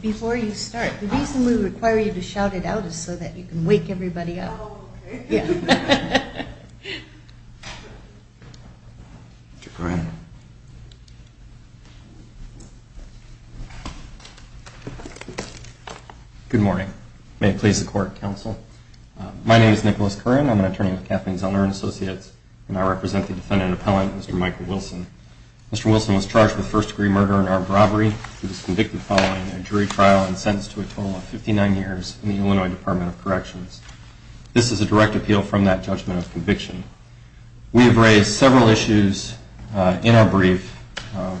Before you start, the reason we require you to shout it out is so that you can wake everybody up. Good morning. May it please the court, counsel. My name is Nicholas Curran. I'm an attorney with Kathleen Zellner and Associates, and I represent the defendant appellant, Mr. Michael Wilson. Mr. Wilson was charged with first-degree murder and armed robbery. He was convicted following a jury trial and sentenced to a total of 59 years in the Illinois Department of Corrections. This is a direct appeal from that judgment of conviction. We have raised several issues in our brief,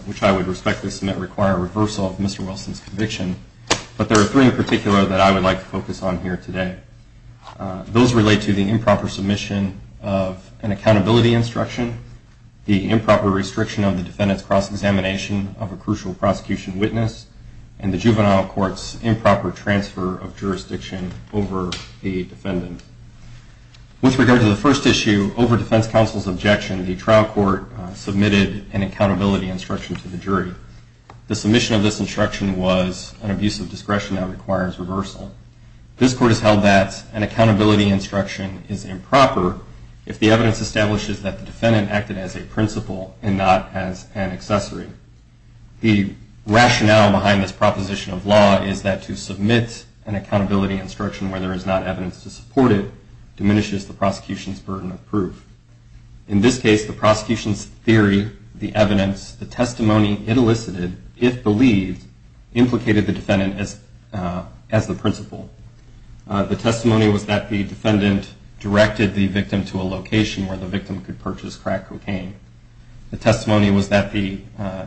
which I would respectfully submit require a reversal of Mr. Wilson's conviction, but there are three in particular that I would like to focus on here today. Those relate to the improper submission of an accountability instruction, the improper restriction of the defendant's cross-examination of a crucial prosecution witness, and the over the defendant. With regard to the first issue, over defense counsel's objection, the trial court submitted an accountability instruction to the jury. The submission of this instruction was an abuse of discretion that requires reversal. This court has held that an accountability instruction is improper if the evidence establishes that the defendant acted as a principal and not as an accessory. The rationale behind this proposition of law is that to submit an accountability instruction where there is not evidence to support it diminishes the prosecution's burden of proof. In this case, the prosecution's theory, the evidence, the testimony it elicited, if believed, implicated the defendant as the principal. The testimony was that the defendant directed the victim to a location where the victim could purchase crack cocaine. The testimony was that the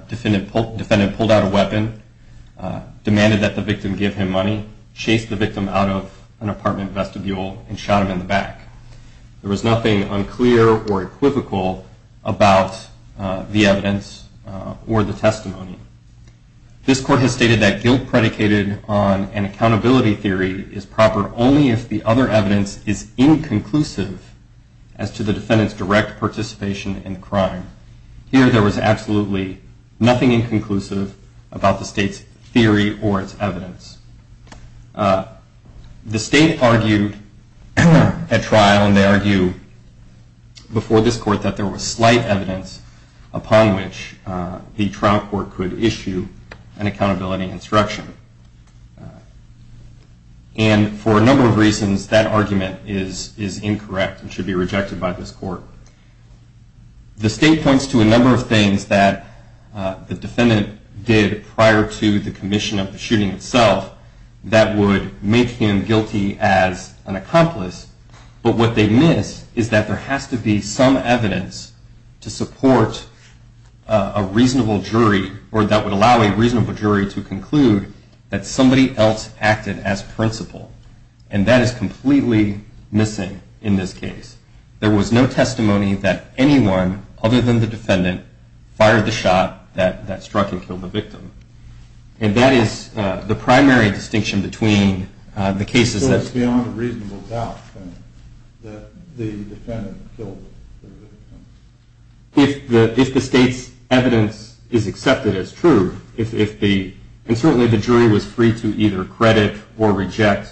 defendant pulled out a weapon, demanded that the victim give him money, chased the victim out of an apartment vestibule, and shot him in the back. There was nothing unclear or equivocal about the evidence or the testimony. This court has stated that guilt predicated on an accountability theory is proper only if the other evidence is inconclusive as to the defendant's direct participation in the crime. Here, there was absolutely nothing inconclusive about the state's theory or its evidence. The state argued at trial, and they argue before this court, that there was slight evidence upon which the trial court could issue an accountability instruction. And for a number of reasons, that argument is incorrect and should be rejected by this court. The state points to a number of things that the defendant did prior to the commission of the shooting itself that would make him guilty as an accomplice. But what they miss is that there has to be some evidence to support a reasonable jury, or that would allow a reasonable jury to conclude that somebody else acted as principal. And that is completely missing in this case. There was no testimony that anyone other than the defendant fired the shot that struck and killed the victim. And that is the primary distinction between the cases that's gone. So it's beyond a reasonable doubt that the defendant killed the victim? If the state's evidence is accepted as true, and certainly the jury was free to either credit or reject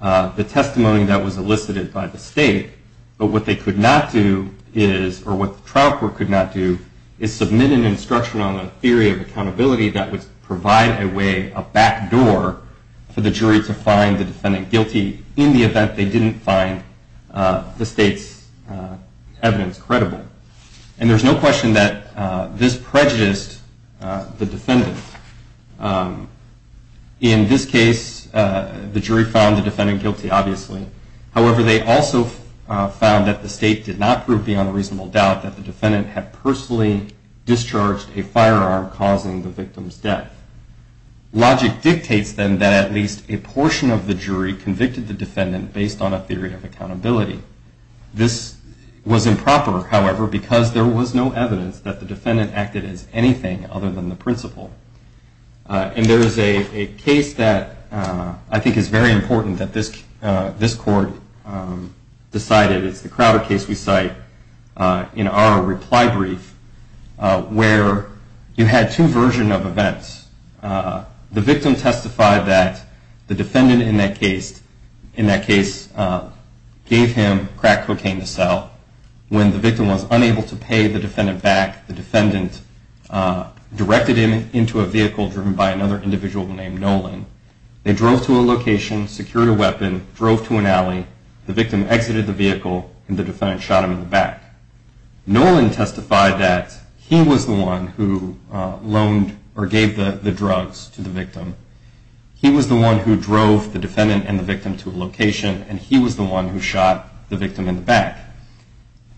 the testimony that was elicited by the state, but what they could not do is, or what the trial court could not do, is submit an instruction on a theory of accountability that would provide a way, a back door, for the jury to find the defendant guilty in the event they didn't find the state's evidence credible. And there's no question that this prejudiced the defendant. In this case, the jury found the defendant guilty, obviously. However, they also found that the state did not prove beyond a reasonable doubt that the defendant had personally discharged a firearm causing the victim's death. Logic dictates, then, that at least a portion of the jury convicted the defendant based on a theory of accountability. This was improper, however, because there was no evidence that the defendant acted as anything other than the principal. And there is a case that I think is very important that this court decided. It's the Crowder case we cite in our reply brief, where you had two versions of events. The victim testified that the defendant in that case gave him crack cocaine to sell. When the victim was unable to pay the defendant back, the defendant directed him into a vehicle driven by another individual named Nolan. They drove to a location, secured a weapon, drove to an alley. The victim exited the vehicle, and the defendant shot him in the back. Nolan testified that he was the one who loaned or gave the drugs to the victim. He was the one who drove the defendant and the victim to a location, and he was the one who shot the victim in the back.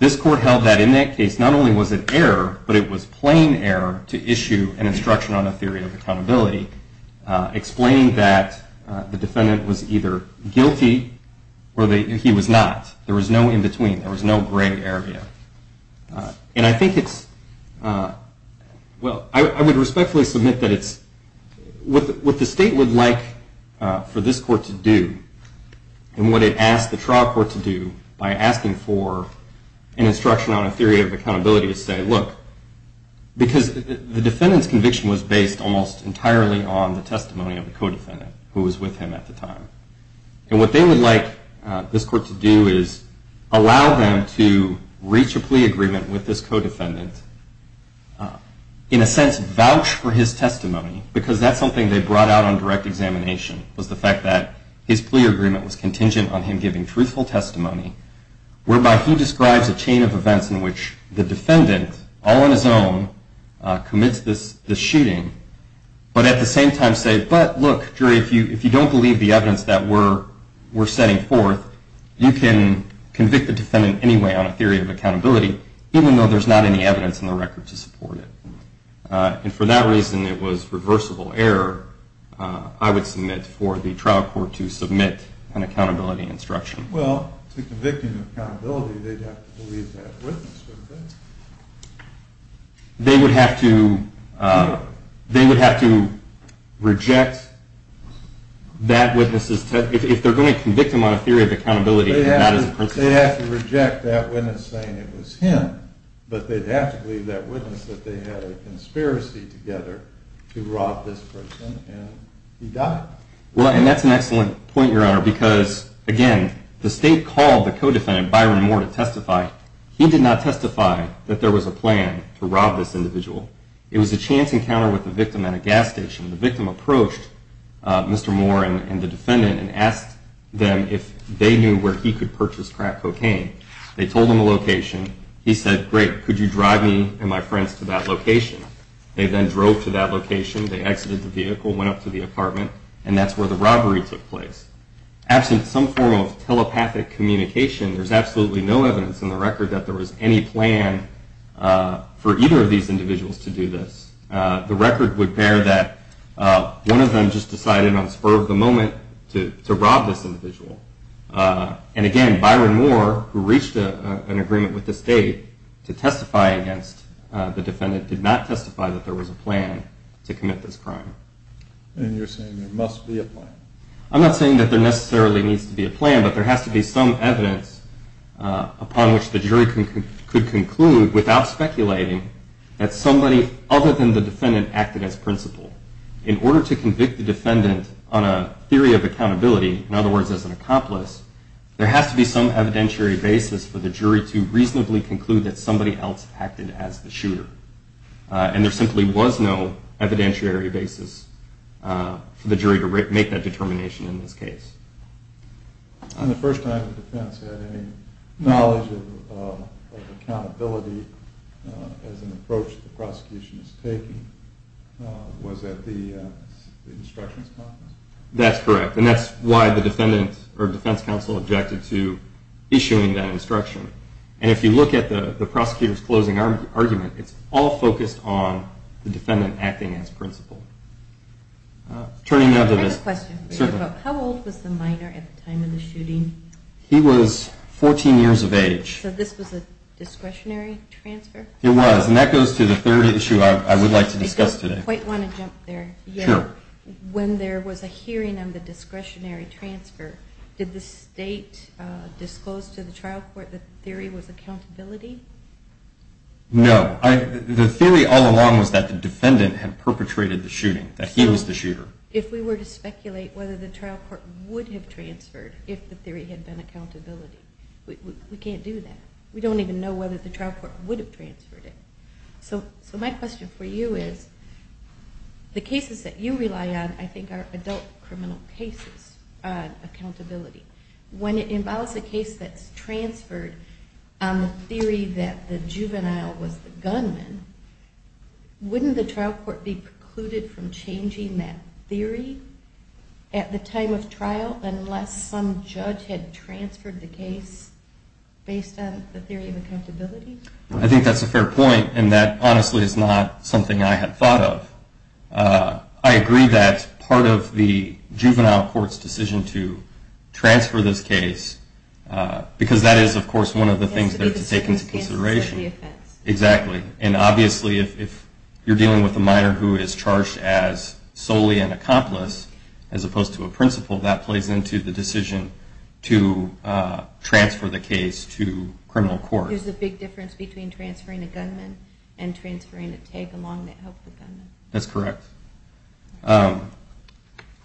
This court held that in that case not only was it error, but it was plain error to issue an instruction on a theory of accountability explaining that the defendant was either guilty or he was not. There was no in-between. There was no gray area. And I think it's, well, I would respectfully submit that it's what the state would like for this court to do and what it asked the trial court to do by asking for an instruction on a theory of accountability to say, look, because the defendant's conviction was based almost entirely on the testimony of the co-defendant who was with him at the time. And what they would like this court to do is allow them to reach a plea agreement with this co-defendant, in a sense vouch for his testimony, because that's something they brought out on direct examination was the fact that his plea agreement was contingent on him giving truthful testimony whereby he describes a chain of events in which the defendant, all on his own, commits the shooting, but at the same time say, but look, jury, if you don't believe the evidence that we're setting forth, you can convict the defendant anyway on a theory of accountability, even though there's not any evidence in the record to support it. And for that reason, it was reversible error, I would submit, for the trial court to submit an accountability instruction. Well, to convict him of accountability, they'd have to believe that witness, wouldn't they? They would have to reject that witness's testimony. If they're going to convict him on a theory of accountability, that is a principle. They'd have to reject that witness saying it was him, but they'd have to believe that witness that they had a conspiracy together to rob this person, and he died. Well, and that's an excellent point, Your Honor, because, again, the state called the co-defendant, Byron Moore, to testify. He did not testify that there was a plan to rob this individual. It was a chance encounter with a victim at a gas station. The victim approached Mr. Moore and the defendant and asked them if they knew where he could purchase crack cocaine. They told him the location. He said, great, could you drive me and my friends to that location? They then drove to that location. They exited the vehicle, went up to the apartment, and that's where the robbery took place. Absent some form of telepathic communication, there's absolutely no evidence in the record that there was any plan for either of these individuals to do this. The record would bear that one of them just decided on the spur of the moment to rob this individual. And, again, Byron Moore, who reached an agreement with the state to testify against the defendant, did not testify that there was a plan to commit this crime. And you're saying there must be a plan. I'm not saying that there necessarily needs to be a plan, but there has to be some evidence upon which the jury could conclude without speculating that somebody other than the defendant acted as principal. In order to convict the defendant on a theory of accountability, in other words, as an accomplice, there has to be some evidentiary basis for the jury to reasonably conclude that somebody else acted as the shooter. And there simply was no evidentiary basis for the jury to make that determination in this case. On the first time the defense had any knowledge of accountability as an approach the prosecution is taking, was at the instructions conference. That's correct. And that's why the defense counsel objected to issuing that instruction. And if you look at the prosecutor's closing argument, it's all focused on the defendant acting as principal. I have a question. Certainly. How old was the minor at the time of the shooting? He was 14 years of age. So this was a discretionary transfer? It was. And that goes to the third issue I would like to discuss today. I don't quite want to jump there yet. When there was a hearing on the discretionary transfer, did the state disclose to the trial court that the theory was accountability? No. The theory all along was that the defendant had perpetrated the shooting, that he was the shooter. So if we were to speculate whether the trial court would have transferred if the theory had been accountability, we can't do that. We don't even know whether the trial court would have transferred it. So my question for you is, the cases that you rely on, I think, are adult criminal cases on accountability. When it involves a case that's transferred on the theory that the juvenile was the gunman, wouldn't the trial court be precluded from changing that theory at the time of trial unless some judge had transferred the case based on the theory of accountability? I think that's a fair point, and that, honestly, is not something I had thought of. I agree that part of the juvenile court's decision to transfer this case, because that is, of course, one of the things they're to take into consideration. Exactly. And obviously if you're dealing with a minor who is charged as solely an accomplice, as opposed to a principal, that plays into the decision to transfer the case to criminal court. There's a big difference between transferring a gunman and transferring a tag along that helped the gunman. That's correct.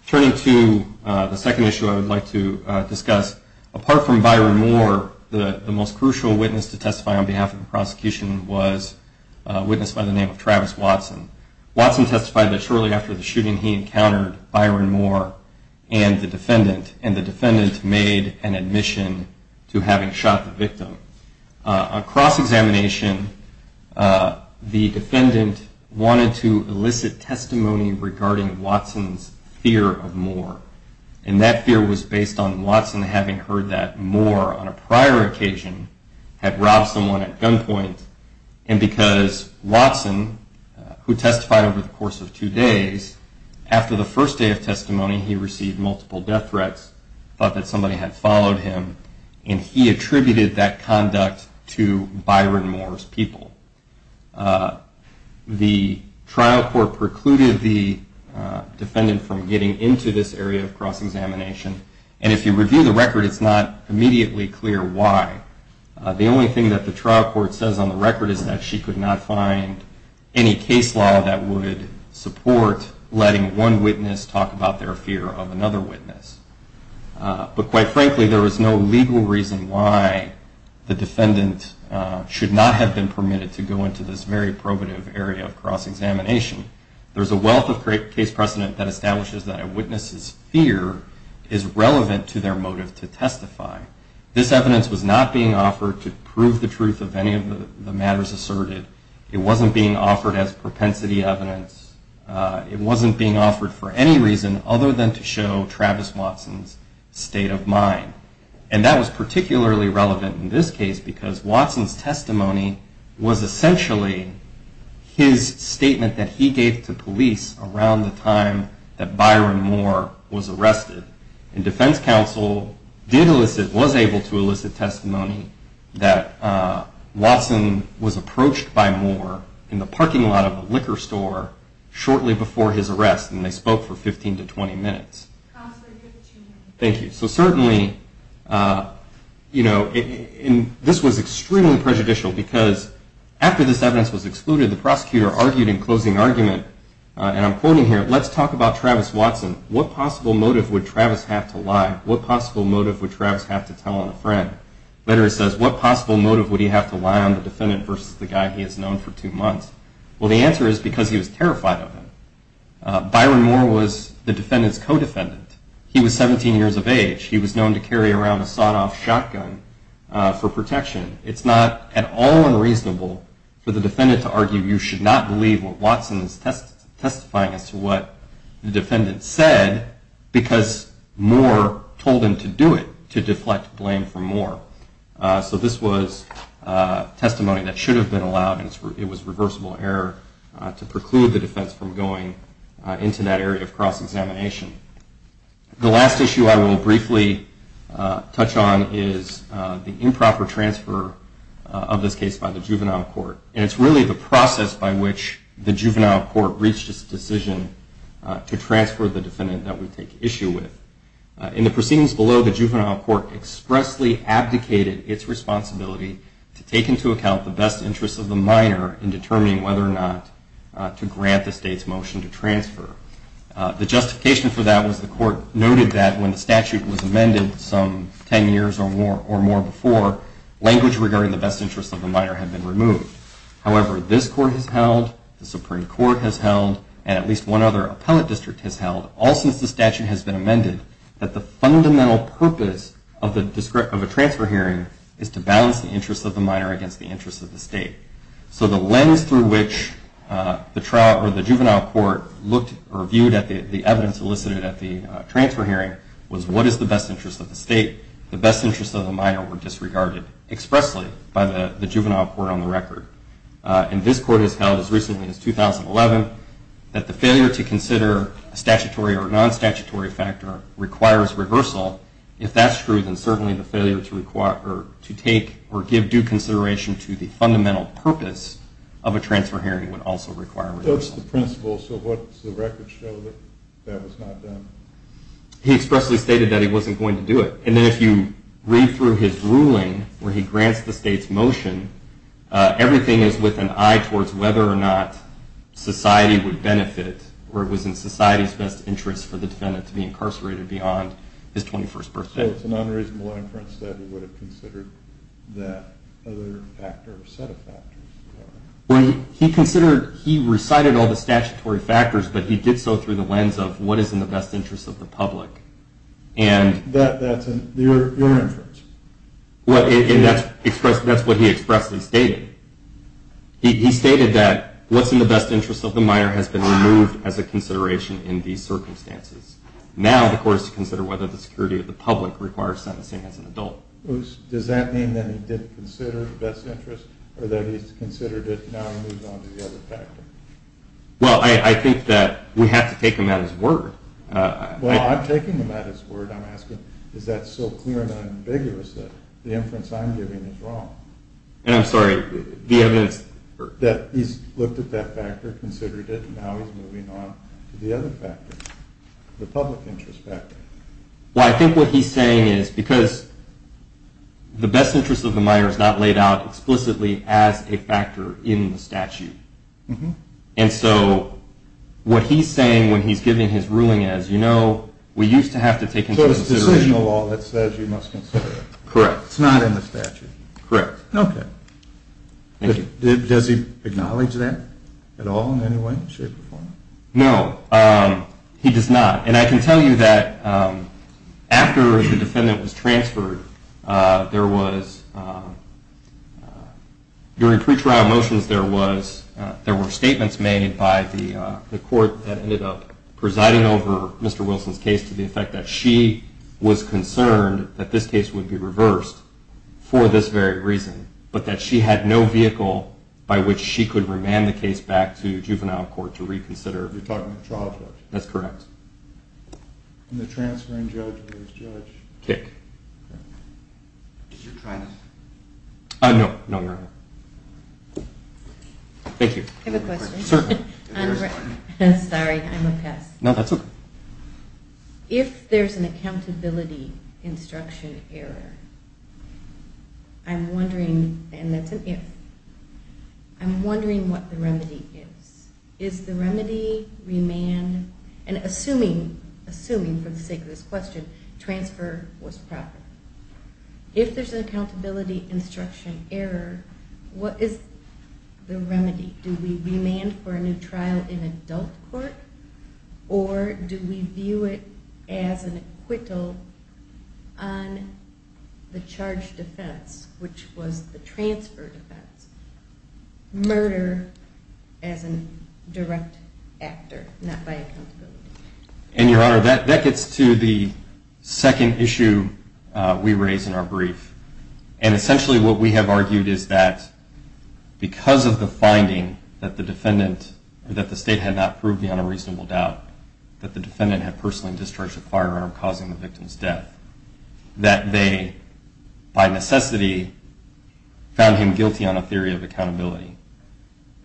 Turning to the second issue I would like to discuss, apart from Byron Moore, the most crucial witness to testify on behalf of the prosecution was a witness by the name of Travis Watson. Watson testified that shortly after the shooting he encountered Byron Moore and the defendant, made an admission to having shot the victim. On cross-examination, the defendant wanted to elicit testimony regarding Watson's fear of Moore, and that fear was based on Watson having heard that Moore, on a prior occasion, had robbed someone at gunpoint, and because Watson, who testified over the course of two days, after the first day of testimony he received multiple death threats, thought that somebody had followed him, and he attributed that conduct to Byron Moore's people. The trial court precluded the defendant from getting into this area of cross-examination, and if you review the record it's not immediately clear why. The only thing that the trial court says on the record is that she could not find any case law that would support letting one witness talk about their fear of another witness. But quite frankly, there was no legal reason why the defendant should not have been permitted to go into this very probative area of cross-examination. There's a wealth of case precedent that establishes that a witness's fear is relevant to their motive to testify. This evidence was not being offered to prove the truth of any of the matters asserted. It wasn't being offered as propensity evidence. It wasn't being offered for any reason other than to show Travis Watson's state of mind. And that was particularly relevant in this case, because Watson's testimony was essentially his statement that he gave to police around the time that Byron Moore was arrested. And defense counsel was able to elicit testimony that Watson was approached by Moore in the parking lot of a liquor store shortly before his arrest, and they spoke for 15 to 20 minutes. Thank you. So certainly, you know, this was extremely prejudicial because after this evidence was excluded, the prosecutor argued in closing argument, and I'm quoting here, let's talk about Travis Watson. What possible motive would Travis have to lie? What possible motive would Travis have to tell on a friend? The letter says, what possible motive would he have to lie on the defendant versus the guy he has known for two months? Well, the answer is because he was terrified of him. Byron Moore was the defendant's co-defendant. He was 17 years of age. He was known to carry around a sawed-off shotgun for protection. It's not at all unreasonable for the defendant to argue you should not believe what Watson is testifying as to what the defendant said because Moore told him to do it, to deflect blame from Moore. So this was testimony that should have been allowed, and it was reversible error to preclude the defense from going into that area of cross-examination. The last issue I will briefly touch on is the improper transfer of this case by the juvenile court. And it's really the process by which the juvenile court reached its decision to transfer the defendant that we take issue with. In the proceedings below, the juvenile court expressly abdicated its responsibility to take into account the best interests of the minor in determining whether or not to grant the state's motion to transfer. The justification for that was the court noted that when the statute was amended some 10 years or more before, language regarding the best interests of the minor had been removed. However, this court has held, the Supreme Court has held, and at least one other appellate district has held, all since the statute has been amended, that the fundamental purpose of a transfer hearing is to balance the interests of the minor against the interests of the state. So the lens through which the juvenile court viewed the evidence elicited at the transfer hearing was what is the best interest of the state? The best interests of the minor were disregarded expressly by the juvenile court on the record. And this court has held as recently as 2011 that the failure to consider a statutory or non-statutory factor requires reversal. If that's true, then certainly the failure to take or give due consideration to the fundamental purpose of a transfer hearing would also require reversal. But that's the principle, so what's the record show that that was not done? He expressly stated that he wasn't going to do it. And then if you read through his ruling where he grants the state's motion, everything is with an eye towards whether or not society would benefit, or it was in society's best interest for the defendant to be incarcerated beyond his 21st birthday. So it's a non-reasonable inference that he would have considered that other factor or set of factors? He considered, he recited all the statutory factors, but he did so through the lens of what is in the best interest of the public. And that's what he expressed and stated. He stated that what's in the best interest of the minor has been removed as a consideration in these circumstances. Now the court is to consider whether the security of the public requires sentencing as an adult. Does that mean that he didn't consider the best interest, or that he's considered it, now he moves on to the other factor? Well, I think that we have to take him at his word. Well, I'm taking him at his word. I'm asking, is that so clear and ambiguous that the inference I'm giving is wrong? And I'm sorry, the evidence... That he's looked at that factor, considered it, and now he's moving on to the other factor, the public interest factor. Well, I think what he's saying is because the best interest of the minor is not laid out explicitly as a factor in the statute. And so what he's saying when he's giving his ruling is, you know, we used to have to take into consideration... So it's decisional law that says you must consider it. Correct. It's not in the statute. Correct. Okay. Thank you. Does he acknowledge that at all in any way, shape, or form? No, he does not. And I can tell you that after the defendant was transferred, there was... During pretrial motions, there were statements made by the court that ended up presiding over Mr. Wilson's case to the effect that she was concerned that this case would be reversed for this very reason, but that she had no vehicle by which she could remand the case back to juvenile court to reconsider. You're talking about trial judge? That's correct. And the transferring judge was judge? Dick. Okay. Did you try to... No, no, no, no. Thank you. I have a question. Certainly. Sorry, I'm a pest. No, that's okay. If there's an accountability instruction error, I'm wondering... And that's an if. I'm wondering what the remedy is. Is the remedy remand? And assuming, for the sake of this question, transfer was proper. If there's an accountability instruction error, what is the remedy? Do we remand for a new trial in adult court? Or do we view it as an acquittal on the charge defense, which was the transfer defense? Murder as a direct actor, not by accountability. And, Your Honor, that gets to the second issue we raise in our brief. And essentially what we have argued is that because of the finding that the defendant or that the state had not proved beyond a reasonable doubt that the defendant had personally discharged a firearm causing the victim's death, that they, by necessity, found him guilty on a theory of accountability.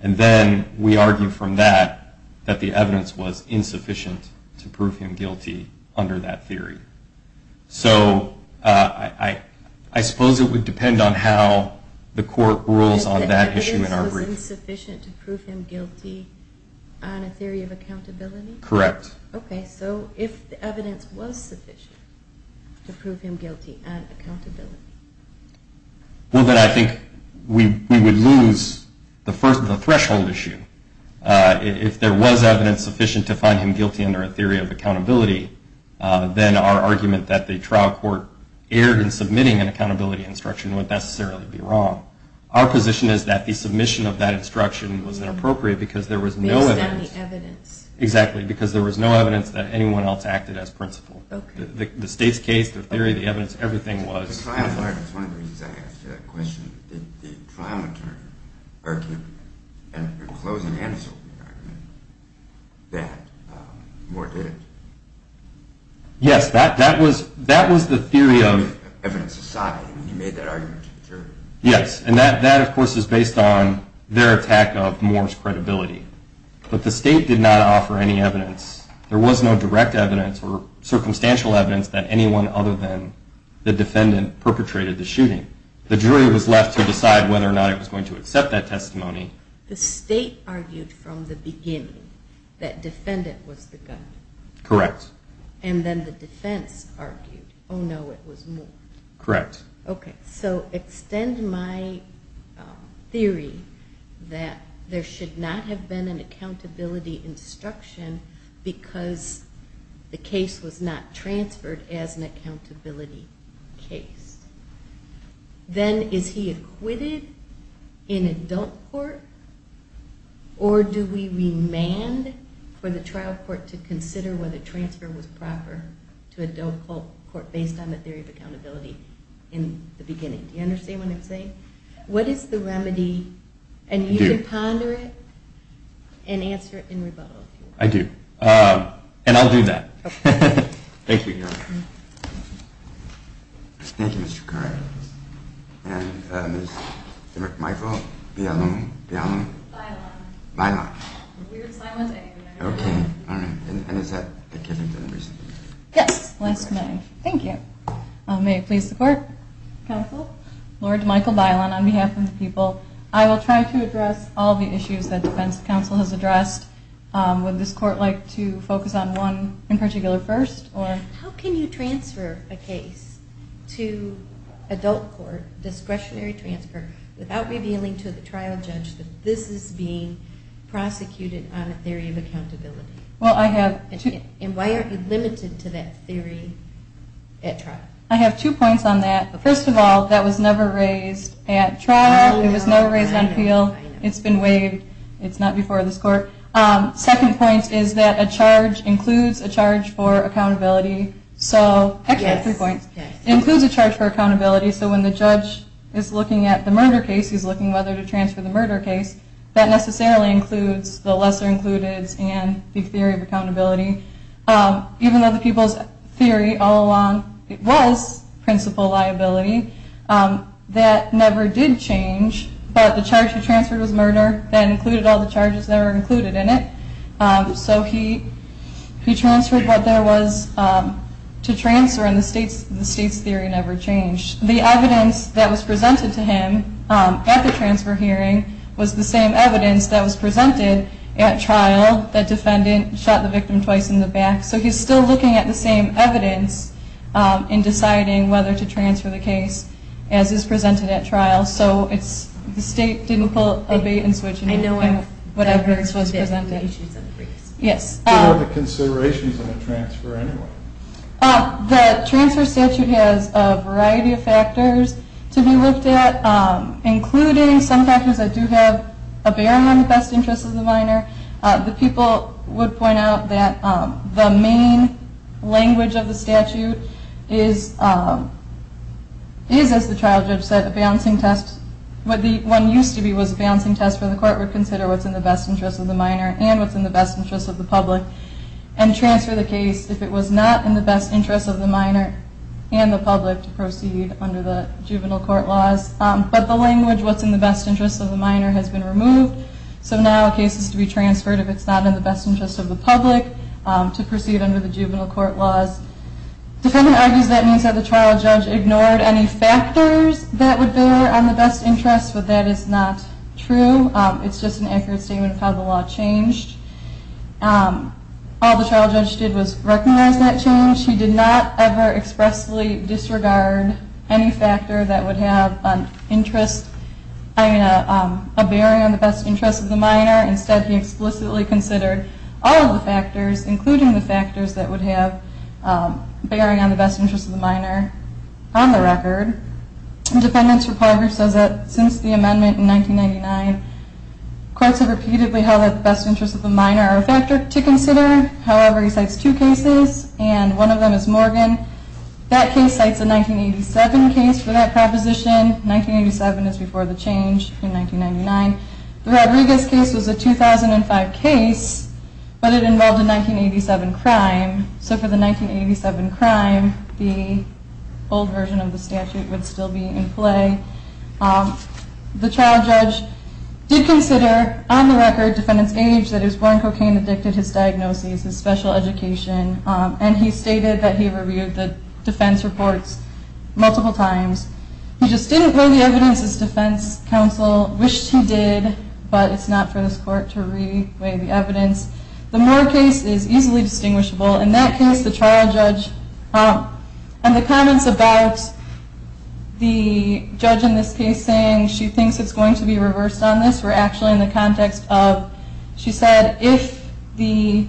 And then we argue from that that the evidence was insufficient to prove him guilty under that theory. So I suppose it would depend on how the court rules on that issue in our brief. The evidence was insufficient to prove him guilty on a theory of accountability? Correct. Okay. So if the evidence was sufficient to prove him guilty on accountability? Well, then I think we would lose the threshold issue. If there was evidence sufficient to find him guilty under a theory of accountability, then our argument that the trial court erred in submitting an accountability instruction would necessarily be wrong. Our position is that the submission of that instruction was inappropriate because there was no evidence. Based on the evidence. Exactly, because there was no evidence that anyone else acted as principal. Okay. The state's case, the theory, the evidence, everything was. The trial court, that's one of the reasons I asked you that question, did the trial attorney err in closing and submitting the argument that Moore did it? Yes, that was the theory of. Evidence aside, he made that argument to the jury. Yes, and that, of course, is based on their attack of Moore's credibility. But the state did not offer any evidence. There was no direct evidence or circumstantial evidence that anyone other than the defendant perpetrated the shooting. The jury was left to decide whether or not it was going to accept that testimony. The state argued from the beginning that defendant was the gunman. Correct. And then the defense argued, oh, no, it was Moore. Correct. Okay, so extend my theory that there should not have been an accountability instruction because the case was not transferred as an accountability case. Then is he acquitted in adult court, or do we remand for the trial court to consider whether transfer was proper to adult court based on the theory of accountability in the beginning? Do you understand what I'm saying? What is the remedy? And you can ponder it and answer it in rebuttal. I do. And I'll do that. Okay. Thank you. Thank you, Mr. Carr. And is it my fault? Be I alone? Be I alone? By and large. By and large. Weird sign wasn't it? Okay. All right. And is that a given? Yes. Last comment. Thank you. May it please the court. Counsel. Lord Michael Bilan on behalf of the people. I will try to address all the issues that defense counsel has addressed. Would this court like to focus on one in particular first? How can you transfer a case to adult court, discretionary transfer, without revealing to the trial judge that this is being prosecuted on a theory of accountability? Well, I have. And why are you limited to that theory at trial? I have two points on that. First of all, that was never raised at trial. It was never raised on appeal. It's been waived. It's not before this court. Second point is that a charge includes a charge for accountability. So, actually, I have three points. It includes a charge for accountability. So when the judge is looking at the murder case, he's looking whether to transfer the murder case, that necessarily includes the lesser included and the theory of accountability. Even though the people's theory all along was principal liability, that never did change. But the charge he transferred was murder. That included all the charges that were included in it. So he transferred what there was to transfer, and the state's theory never changed. The evidence that was presented to him at the transfer hearing was the same evidence that was presented at trial, the defendant shot the victim twice in the back. So he's still looking at the same evidence in deciding whether to transfer the case, as is presented at trial. So the state didn't pull a bait and switch and do whatever was presented. What are the considerations of a transfer anyway? The transfer statute has a variety of factors to be looked at, including some factors that do have a bearing on the best interest of the minor. The people would point out that the main language of the statute is, as the trial judge said, a balancing test. What the one used to be was a balancing test where the court would consider what's in the best interest of the minor and what's in the best interest of the public, and transfer the case if it was not in the best interest of the minor and the public to proceed under the juvenile court laws. But the language, what's in the best interest of the minor, has been removed. So now a case is to be transferred if it's not in the best interest of the public to proceed under the juvenile court laws. The defendant argues that means that the trial judge ignored any factors that would bear on the best interest, but that is not true. It's just an accurate statement of how the law changed. All the trial judge did was recognize that change. He did not ever expressly disregard any factor that would have an interest, I mean, a bearing on the best interest of the minor. Instead, he explicitly considered all of the factors, including the factors that would have a bearing on the best interest of the minor, on the record. The defendant's report says that since the amendment in 1999, courts have repeatedly held that the best interests of the minor are a factor to consider. However, he cites two cases, and one of them is Morgan. That case cites a 1987 case for that proposition. 1987 is before the change in 1999. The Rodriguez case was a 2005 case, but it involved a 1987 crime. So for the 1987 crime, the old version of the statute would still be in play. The trial judge did consider, on the record, defendant's age, that he was born cocaine-addicted, his diagnosis, his special education, and he stated that he reviewed the defense reports multiple times. He just didn't weigh the evidence. His defense counsel wished he did, but it's not for this court to weigh the evidence. The Moore case is easily distinguishable. In that case, the trial judge, and the comments about the judge in this case saying she thinks it's going to be reversed on this were actually in the context of, she said if the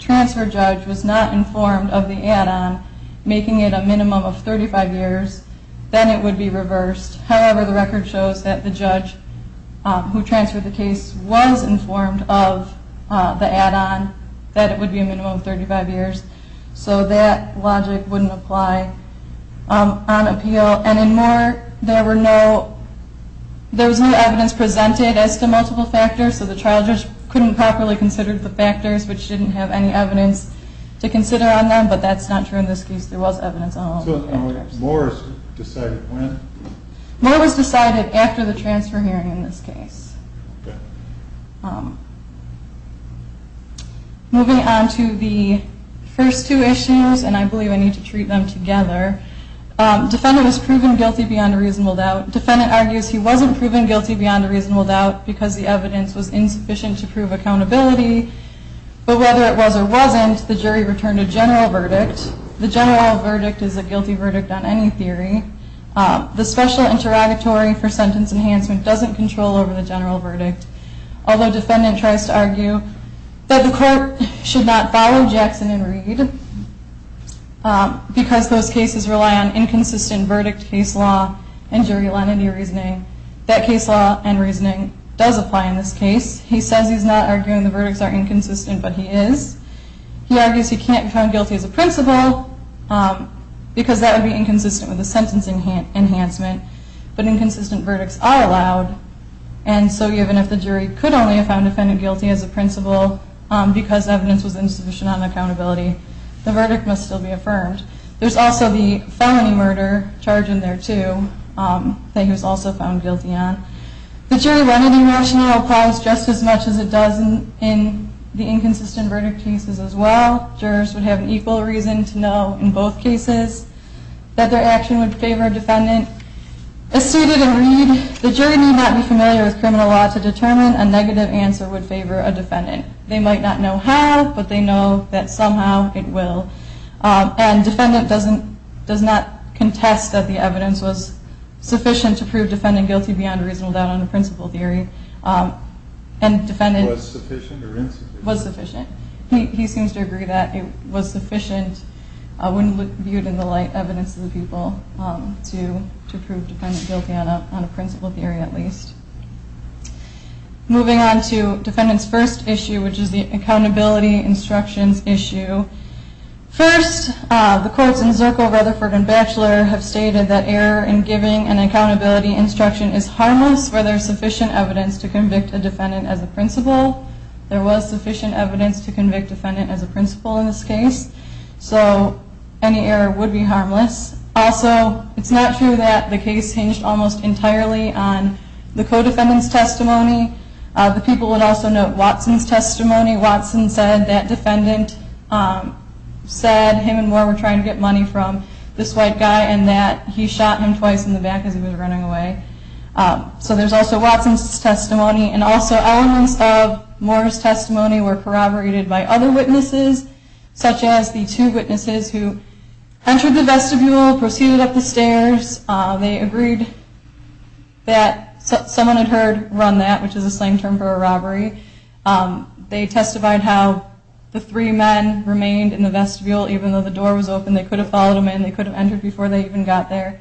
transfer judge was not informed of the add-on, making it a minimum of 35 years, then it would be reversed. However, the record shows that the judge who transferred the case was informed of the add-on, that it would be a minimum of 35 years. So that logic wouldn't apply on appeal. And in Moore, there was no evidence presented as to multiple factors, so the trial judge couldn't properly consider the factors, but she didn't have any evidence to consider on them. But that's not true in this case. There was evidence on all of the factors. Moore was decided when? Moving on to the first two issues, and I believe I need to treat them together. Defendant was proven guilty beyond a reasonable doubt. Defendant argues he wasn't proven guilty beyond a reasonable doubt because the evidence was insufficient to prove accountability. But whether it was or wasn't, the jury returned a general verdict. The general verdict is a guilty verdict on any theory. Although defendant tries to argue that the court should not follow Jackson and Reed because those cases rely on inconsistent verdict case law and jury lenity reasoning, that case law and reasoning does apply in this case. He says he's not arguing the verdicts are inconsistent, but he is. He argues he can't be found guilty as a principal because that would be inconsistent with the sentence enhancement, but inconsistent verdicts are allowed, and so even if the jury could only have found defendant guilty as a principal because evidence was insufficient on accountability, the verdict must still be affirmed. There's also the felony murder charge in there, too, that he was also found guilty on. The jury lenity rationale applies just as much as it does in the inconsistent verdict cases as well. Jurors would have an equal reason to know in both cases that their action would favor defendant and as stated in Reed, the jury need not be familiar with criminal law to determine a negative answer would favor a defendant. They might not know how, but they know that somehow it will, and defendant does not contest that the evidence was sufficient to prove defendant guilty beyond a reasonable doubt on the principal theory. Was sufficient or insufficient? Was sufficient. He seems to agree that it was sufficient when viewed in the light evidence of the people to prove defendant guilty on a principal theory at least. Moving on to defendant's first issue, which is the accountability instructions issue. First, the courts in Zirkle, Rutherford, and Batchelor have stated that error in giving an accountability instruction is harmless where there is sufficient evidence to convict a defendant as a principal. There was sufficient evidence to convict a defendant as a principal in this case, so any error would be harmless. Also, it's not true that the case hinged almost entirely on the co-defendant's testimony. The people would also note Watson's testimony. Watson said that defendant said him and Moore were trying to get money from this white guy and that he shot him twice in the back as he was running away. So there's also Watson's testimony and also elements of Moore's testimony were corroborated by other witnesses, such as the two witnesses who entered the vestibule, proceeded up the stairs. They agreed that someone had heard run that, which is a slang term for a robbery. They testified how the three men remained in the vestibule even though the door was open. They could have followed them in. They could have entered before they even got there.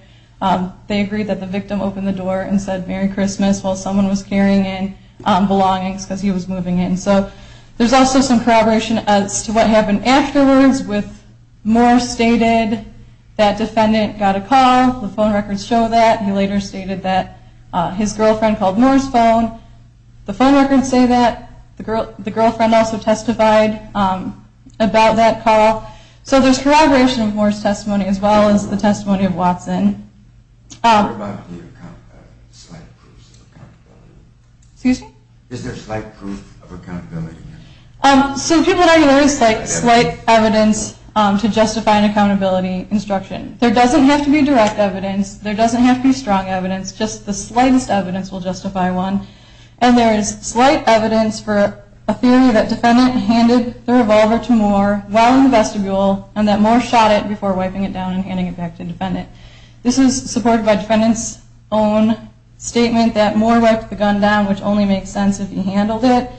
They agreed that the victim opened the door and said Merry Christmas while someone was carrying in belongings because he was moving in. So there's also some corroboration as to what happened afterwards with Moore stated that defendant got a call. The phone records show that. He later stated that his girlfriend called Moore's phone. The phone records say that. The girlfriend also testified about that call. So there's corroboration of Moore's testimony as well as the testimony of Watson. Excuse me? Is there slight proof of accountability? So people don't always cite slight evidence to justify an accountability instruction. There doesn't have to be direct evidence. There doesn't have to be strong evidence. Just the slightest evidence will justify one. And there is slight evidence for a theory that defendant handed the revolver to Moore while in the vestibule and that Moore shot it before wiping it down and handing it back to defendant. This is supported by defendant's own statement that Moore wiped the gun down, which only makes sense if he handled it.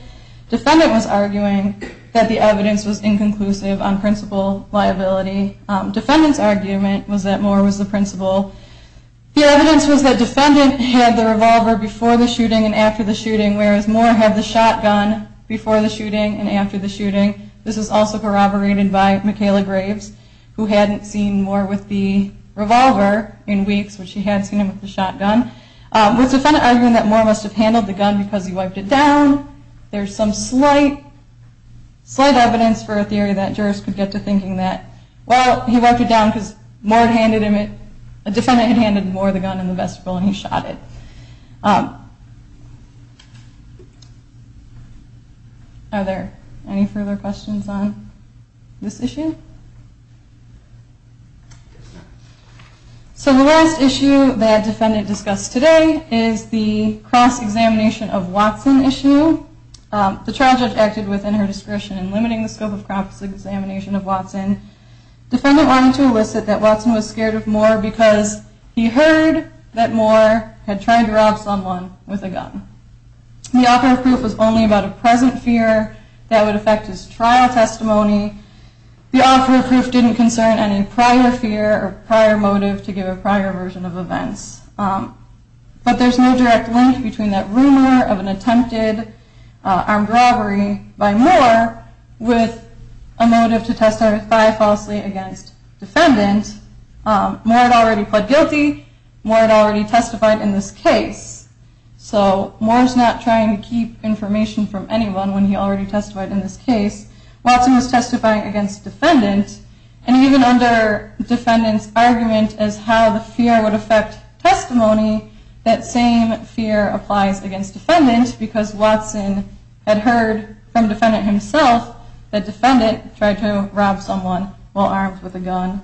Defendant was arguing that the evidence was inconclusive on principal liability. Defendant's argument was that Moore was the principal. The evidence was that defendant had the revolver before the shooting and after the shooting, whereas Moore had the shotgun before the shooting and after the shooting. This was also corroborated by Michaela Graves, who hadn't seen Moore with the revolver in weeks, but she had seen him with the shotgun. With defendant arguing that Moore must have handled the gun because he wiped it down, there's some slight evidence for a theory that jurors could get to thinking that, well, he wiped it down because a defendant had handed Moore the gun in the vestibule and he shot it. Are there any further questions on this issue? So the last issue that defendant discussed today is the cross-examination of Watson issue. The trial judge acted within her discretion in limiting the scope of cross-examination of Watson. Defendant wanted to elicit that Watson was scared of Moore because he heard that Moore had tried to rob someone with a gun. The offer of proof was only about a present fear that would affect his trial testimony. The offer of proof didn't concern any prior fear or prior motive to give a prior version of events. But there's no direct link between that rumor of an attempted armed robbery by Moore with a motive to testify falsely against defendant. Moore had already pled guilty. Moore had already testified in this case. So Moore's not trying to keep information from anyone when he already testified in this case. Watson was testifying against defendant, and even under defendant's argument as how the fear would affect testimony, that same fear applies against defendant because Watson had heard from defendant himself that defendant tried to rob someone while armed with a gun.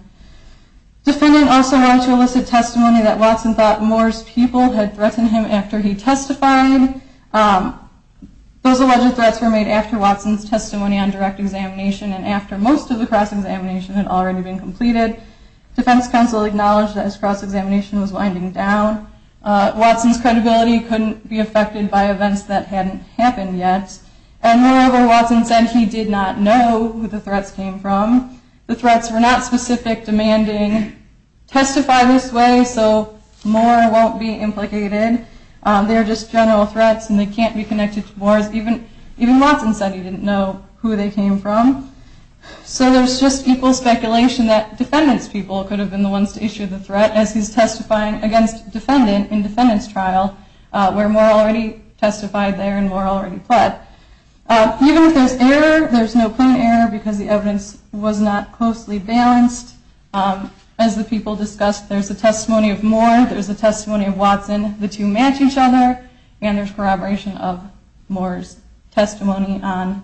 Defendant also wanted to elicit testimony that Watson thought Moore's people had threatened him after he testified. Those alleged threats were made after Watson's testimony on direct examination and after most of the cross-examination had already been completed. Defense counsel acknowledged that his cross-examination was winding down. Watson's credibility couldn't be affected by events that hadn't happened yet. And moreover, Watson said he did not know who the threats came from. The threats were not specific, demanding, testify this way so Moore won't be implicated. They are just general threats and they can't be connected to Moore's. Even Watson said he didn't know who they came from. So there's just equal speculation that defendant's people could have been the ones to issue the threat as he's testifying against defendant in defendant's trial where Moore already testified there and Moore already pled. Even if there's error, there's no proven error because the evidence was not closely balanced. As the people discussed, there's a testimony of Moore, there's a testimony of Watson, the two match each other and there's corroboration of Moore's testimony on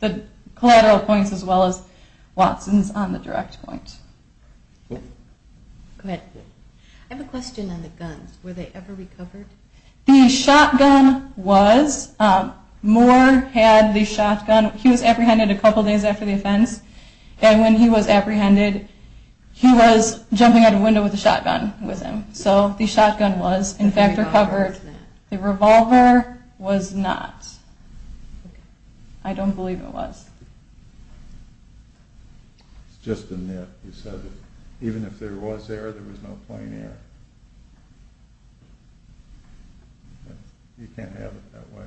the collateral points as well as Watson's on the direct point. I have a question on the guns. Were they ever recovered? The shotgun was. Moore had the shotgun. He was apprehended a couple of days after the offense and when he was apprehended, he was jumping out of a window with a shotgun with him. So the shotgun was in fact recovered. The revolver was not. I don't believe it was. It's just a myth. He said even if there was error, there was no plain error. You can't have it that way.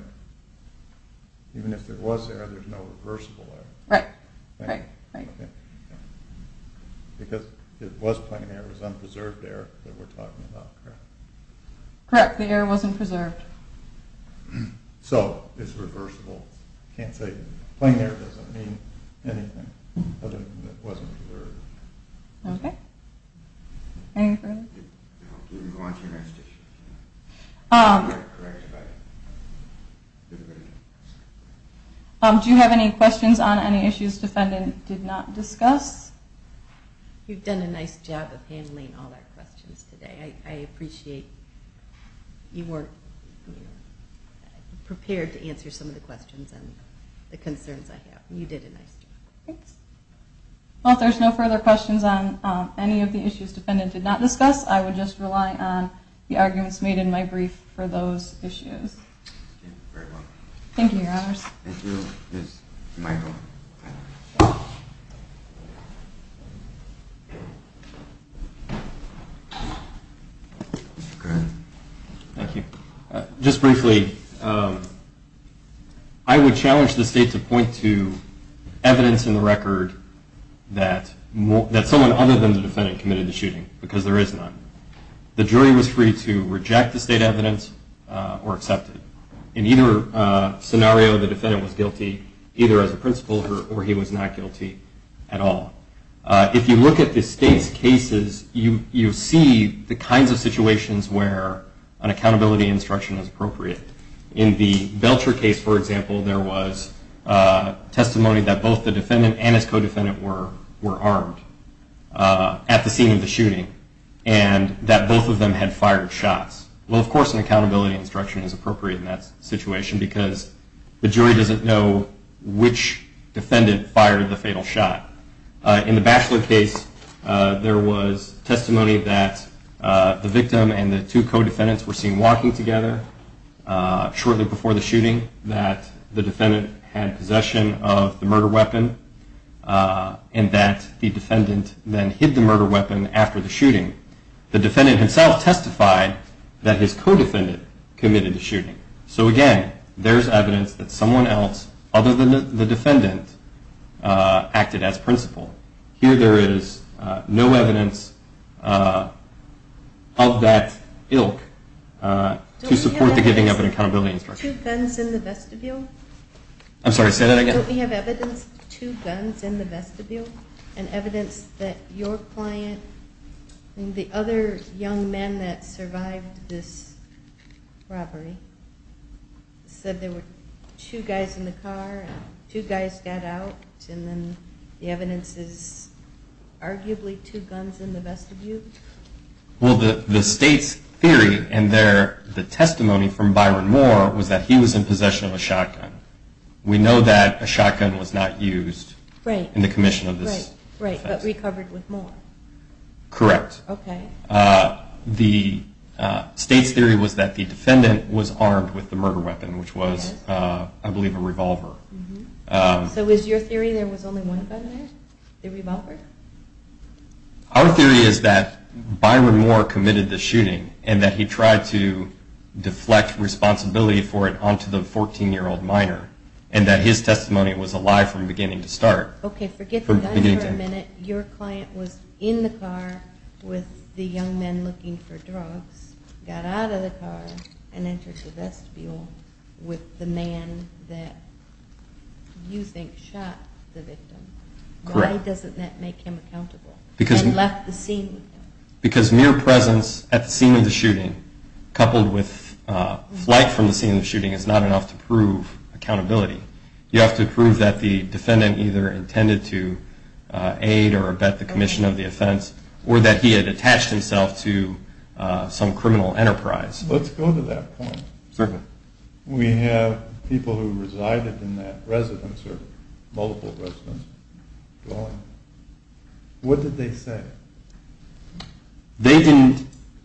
Even if there was error, there's no reversible error. Right. Because it was plain error, it was unpreserved error that we're talking about. Correct. The error wasn't preserved. So it's reversible. I can't say plain error doesn't mean anything other than it wasn't preserved. Do you have any questions on any issues the defendant did not discuss? You've done a nice job of handling all our questions today. I appreciate you weren't prepared to answer some of the questions and the concerns I have. Well, if there's no further questions on any of the issues the defendant did not discuss, I would just rely on the arguments made in my brief for those issues. Thank you, Your Honors. Thank you, Ms. Michael. Go ahead. Thank you. Just briefly, I would challenge the State to point to evidence in the record that someone other than the defendant committed the shooting, because there is none. The jury was free to reject the State evidence or accept it. In either scenario, the defendant was guilty either as a principal or he was not guilty at all. If you look at the State's cases, you see the kinds of situations where an accountability instruction is appropriate. In the Belcher case, for example, there was testimony that both the defendant and his co-defendant were armed at the scene of the shooting and that both of them had fired shots. Well, of course an accountability instruction is appropriate in that situation, because the jury doesn't know which defendant fired the fatal shot. In the Batchelor case, there was testimony that the victim and the two co-defendants were seen walking together shortly before the shooting, that the defendant had possession of the murder weapon, and that the defendant then hid the murder weapon after the shooting. The defendant himself testified that his co-defendant committed the shooting. So again, there is evidence that someone else other than the defendant acted as principal. Here there is no evidence of that ilk to support the giving of an accountability instruction. Don't we have evidence of two guns in the vestibule? I'm sorry, say that again? The other young man that survived this robbery said there were two guys in the car, two guys got out, and then the evidence is arguably two guns in the vestibule? Well, the state's theory and the testimony from Byron Moore was that he was in possession of a shotgun. We know that a shotgun was not used in the commission of this offense. Right, but recovered with Moore? Correct. The state's theory was that the defendant was armed with the murder weapon, which was, I believe, a revolver. So is your theory there was only one gun there, the revolver? Our theory is that Byron Moore committed the shooting and that he tried to deflect responsibility for it onto the 14-year-old minor, and that his testimony was a lie from beginning to start. Okay, forget the gun for a minute. Your client was in the car with the young man looking for drugs, got out of the car, and entered the vestibule with the man that you think shot the victim. Correct. Why doesn't that make him accountable? Because mere presence at the scene of the shooting, coupled with flight from the scene of the shooting, is not enough to prove accountability. You have to prove that the defendant either intended to aid or abet the commission of the offense or that he had attached himself to some criminal enterprise. Let's go to that point. Certainly. We have people who resided in that residence or multiple residences. What did they say?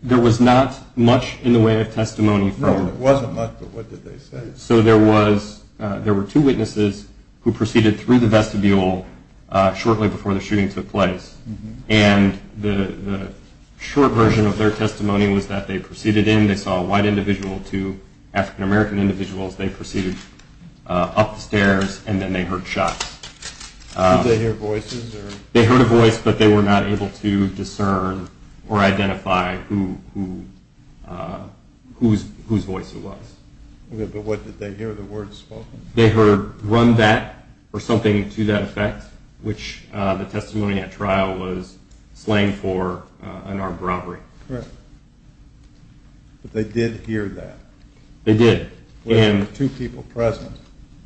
There was not much in the way of testimony. No, there wasn't much, but what did they say? So there were two witnesses who proceeded through the vestibule shortly before the shooting took place, and the short version of their testimony was that they proceeded in, they saw a white individual, two African-American individuals, they proceeded upstairs, and then they heard shots. Did they hear voices? They heard a voice, but they were not able to discern or identify whose voice it was. Okay, but what did they hear, the words spoken? They heard, run that, or something to that effect, which the testimony at trial was slang for an armed robbery. Correct. But they did hear that? They did. There were two people present.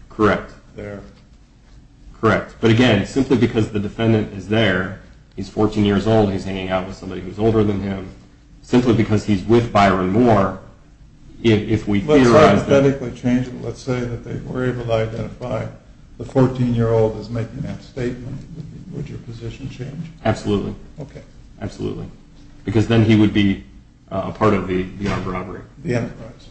Correct. There. Correct. But again, simply because the defendant is there, he's 14 years old, he's hanging out with somebody who's older than him, simply because he's with Byron Moore, if we theorize that... Let's hypothetically change it. Let's say that they were able to identify the 14-year-old as making that statement. Would your position change? Absolutely. Okay. Absolutely. Because then he would be a part of the armed robbery. The enterprise.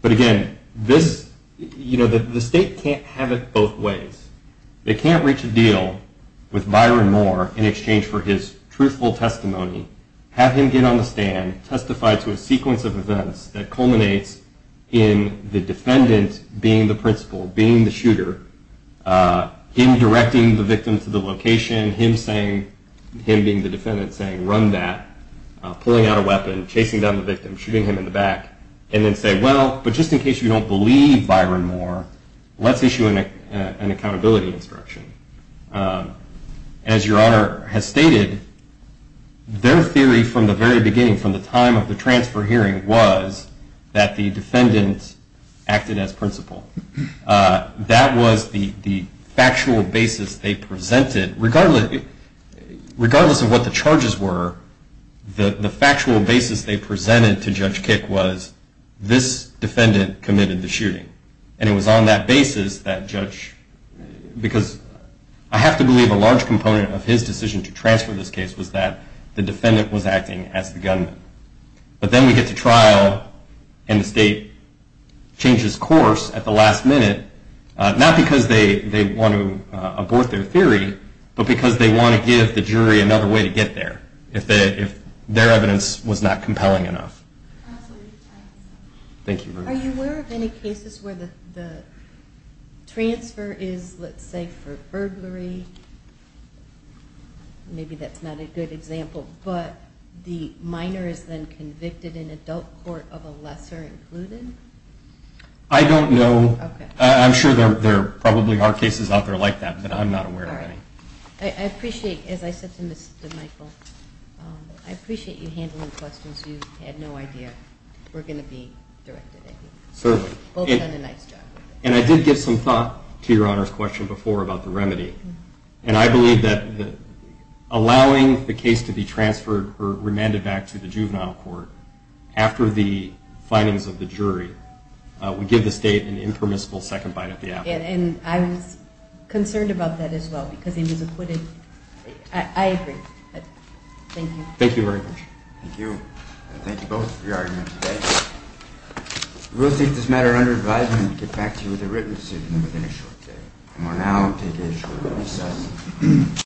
But again, this, you know, the state can't have it both ways. They can't reach a deal with Byron Moore in exchange for his truthful testimony, have him get on the stand, testify to a sequence of events that culminates in the defendant being the principal, being the shooter, him directing the victim to the location, him being the defendant saying, run that, pulling out a weapon, chasing down the victim, shooting him in the back, and then say, well, but just in case you don't believe Byron Moore, let's issue an accountability instruction. As your Honor has stated, their theory from the very beginning, from the time of the transfer hearing, was that the defendant acted as principal. That was the factual basis they presented. Regardless of what the charges were, the factual basis they presented to Judge Kick was, this defendant committed the shooting. And it was on that basis that Judge, because I have to believe a large component of his decision to transfer this case was that the defendant was acting as the gunman. But then we get to trial, and the state changes course at the last minute, not because they want to abort their theory, but because they want to give the jury another way to get there, if their evidence was not compelling enough. Thank you. Are you aware of any cases where the transfer is, let's say, for burglary? Maybe that's not a good example, but the minor is then convicted in adult court of a lesser-included? I don't know. I'm sure there probably are cases out there like that, but I'm not aware of any. All right. I appreciate, as I said to Mr. Michael, I appreciate you handling questions you had no idea were going to be directed at you. Certainly. Both done a nice job. And I did give some thought to Your Honor's question before about the remedy, and I believe that allowing the case to be transferred or remanded back to the juvenile court after the findings of the jury would give the state an impermissible second bite at the apple. And I was concerned about that as well because it was acquitted. I agree. Thank you. Thank you very much. Thank you. Thank you both for your argument today. We will take this matter under advisement and get back to you with a written decision within a short period of time. And we will now take a short recess.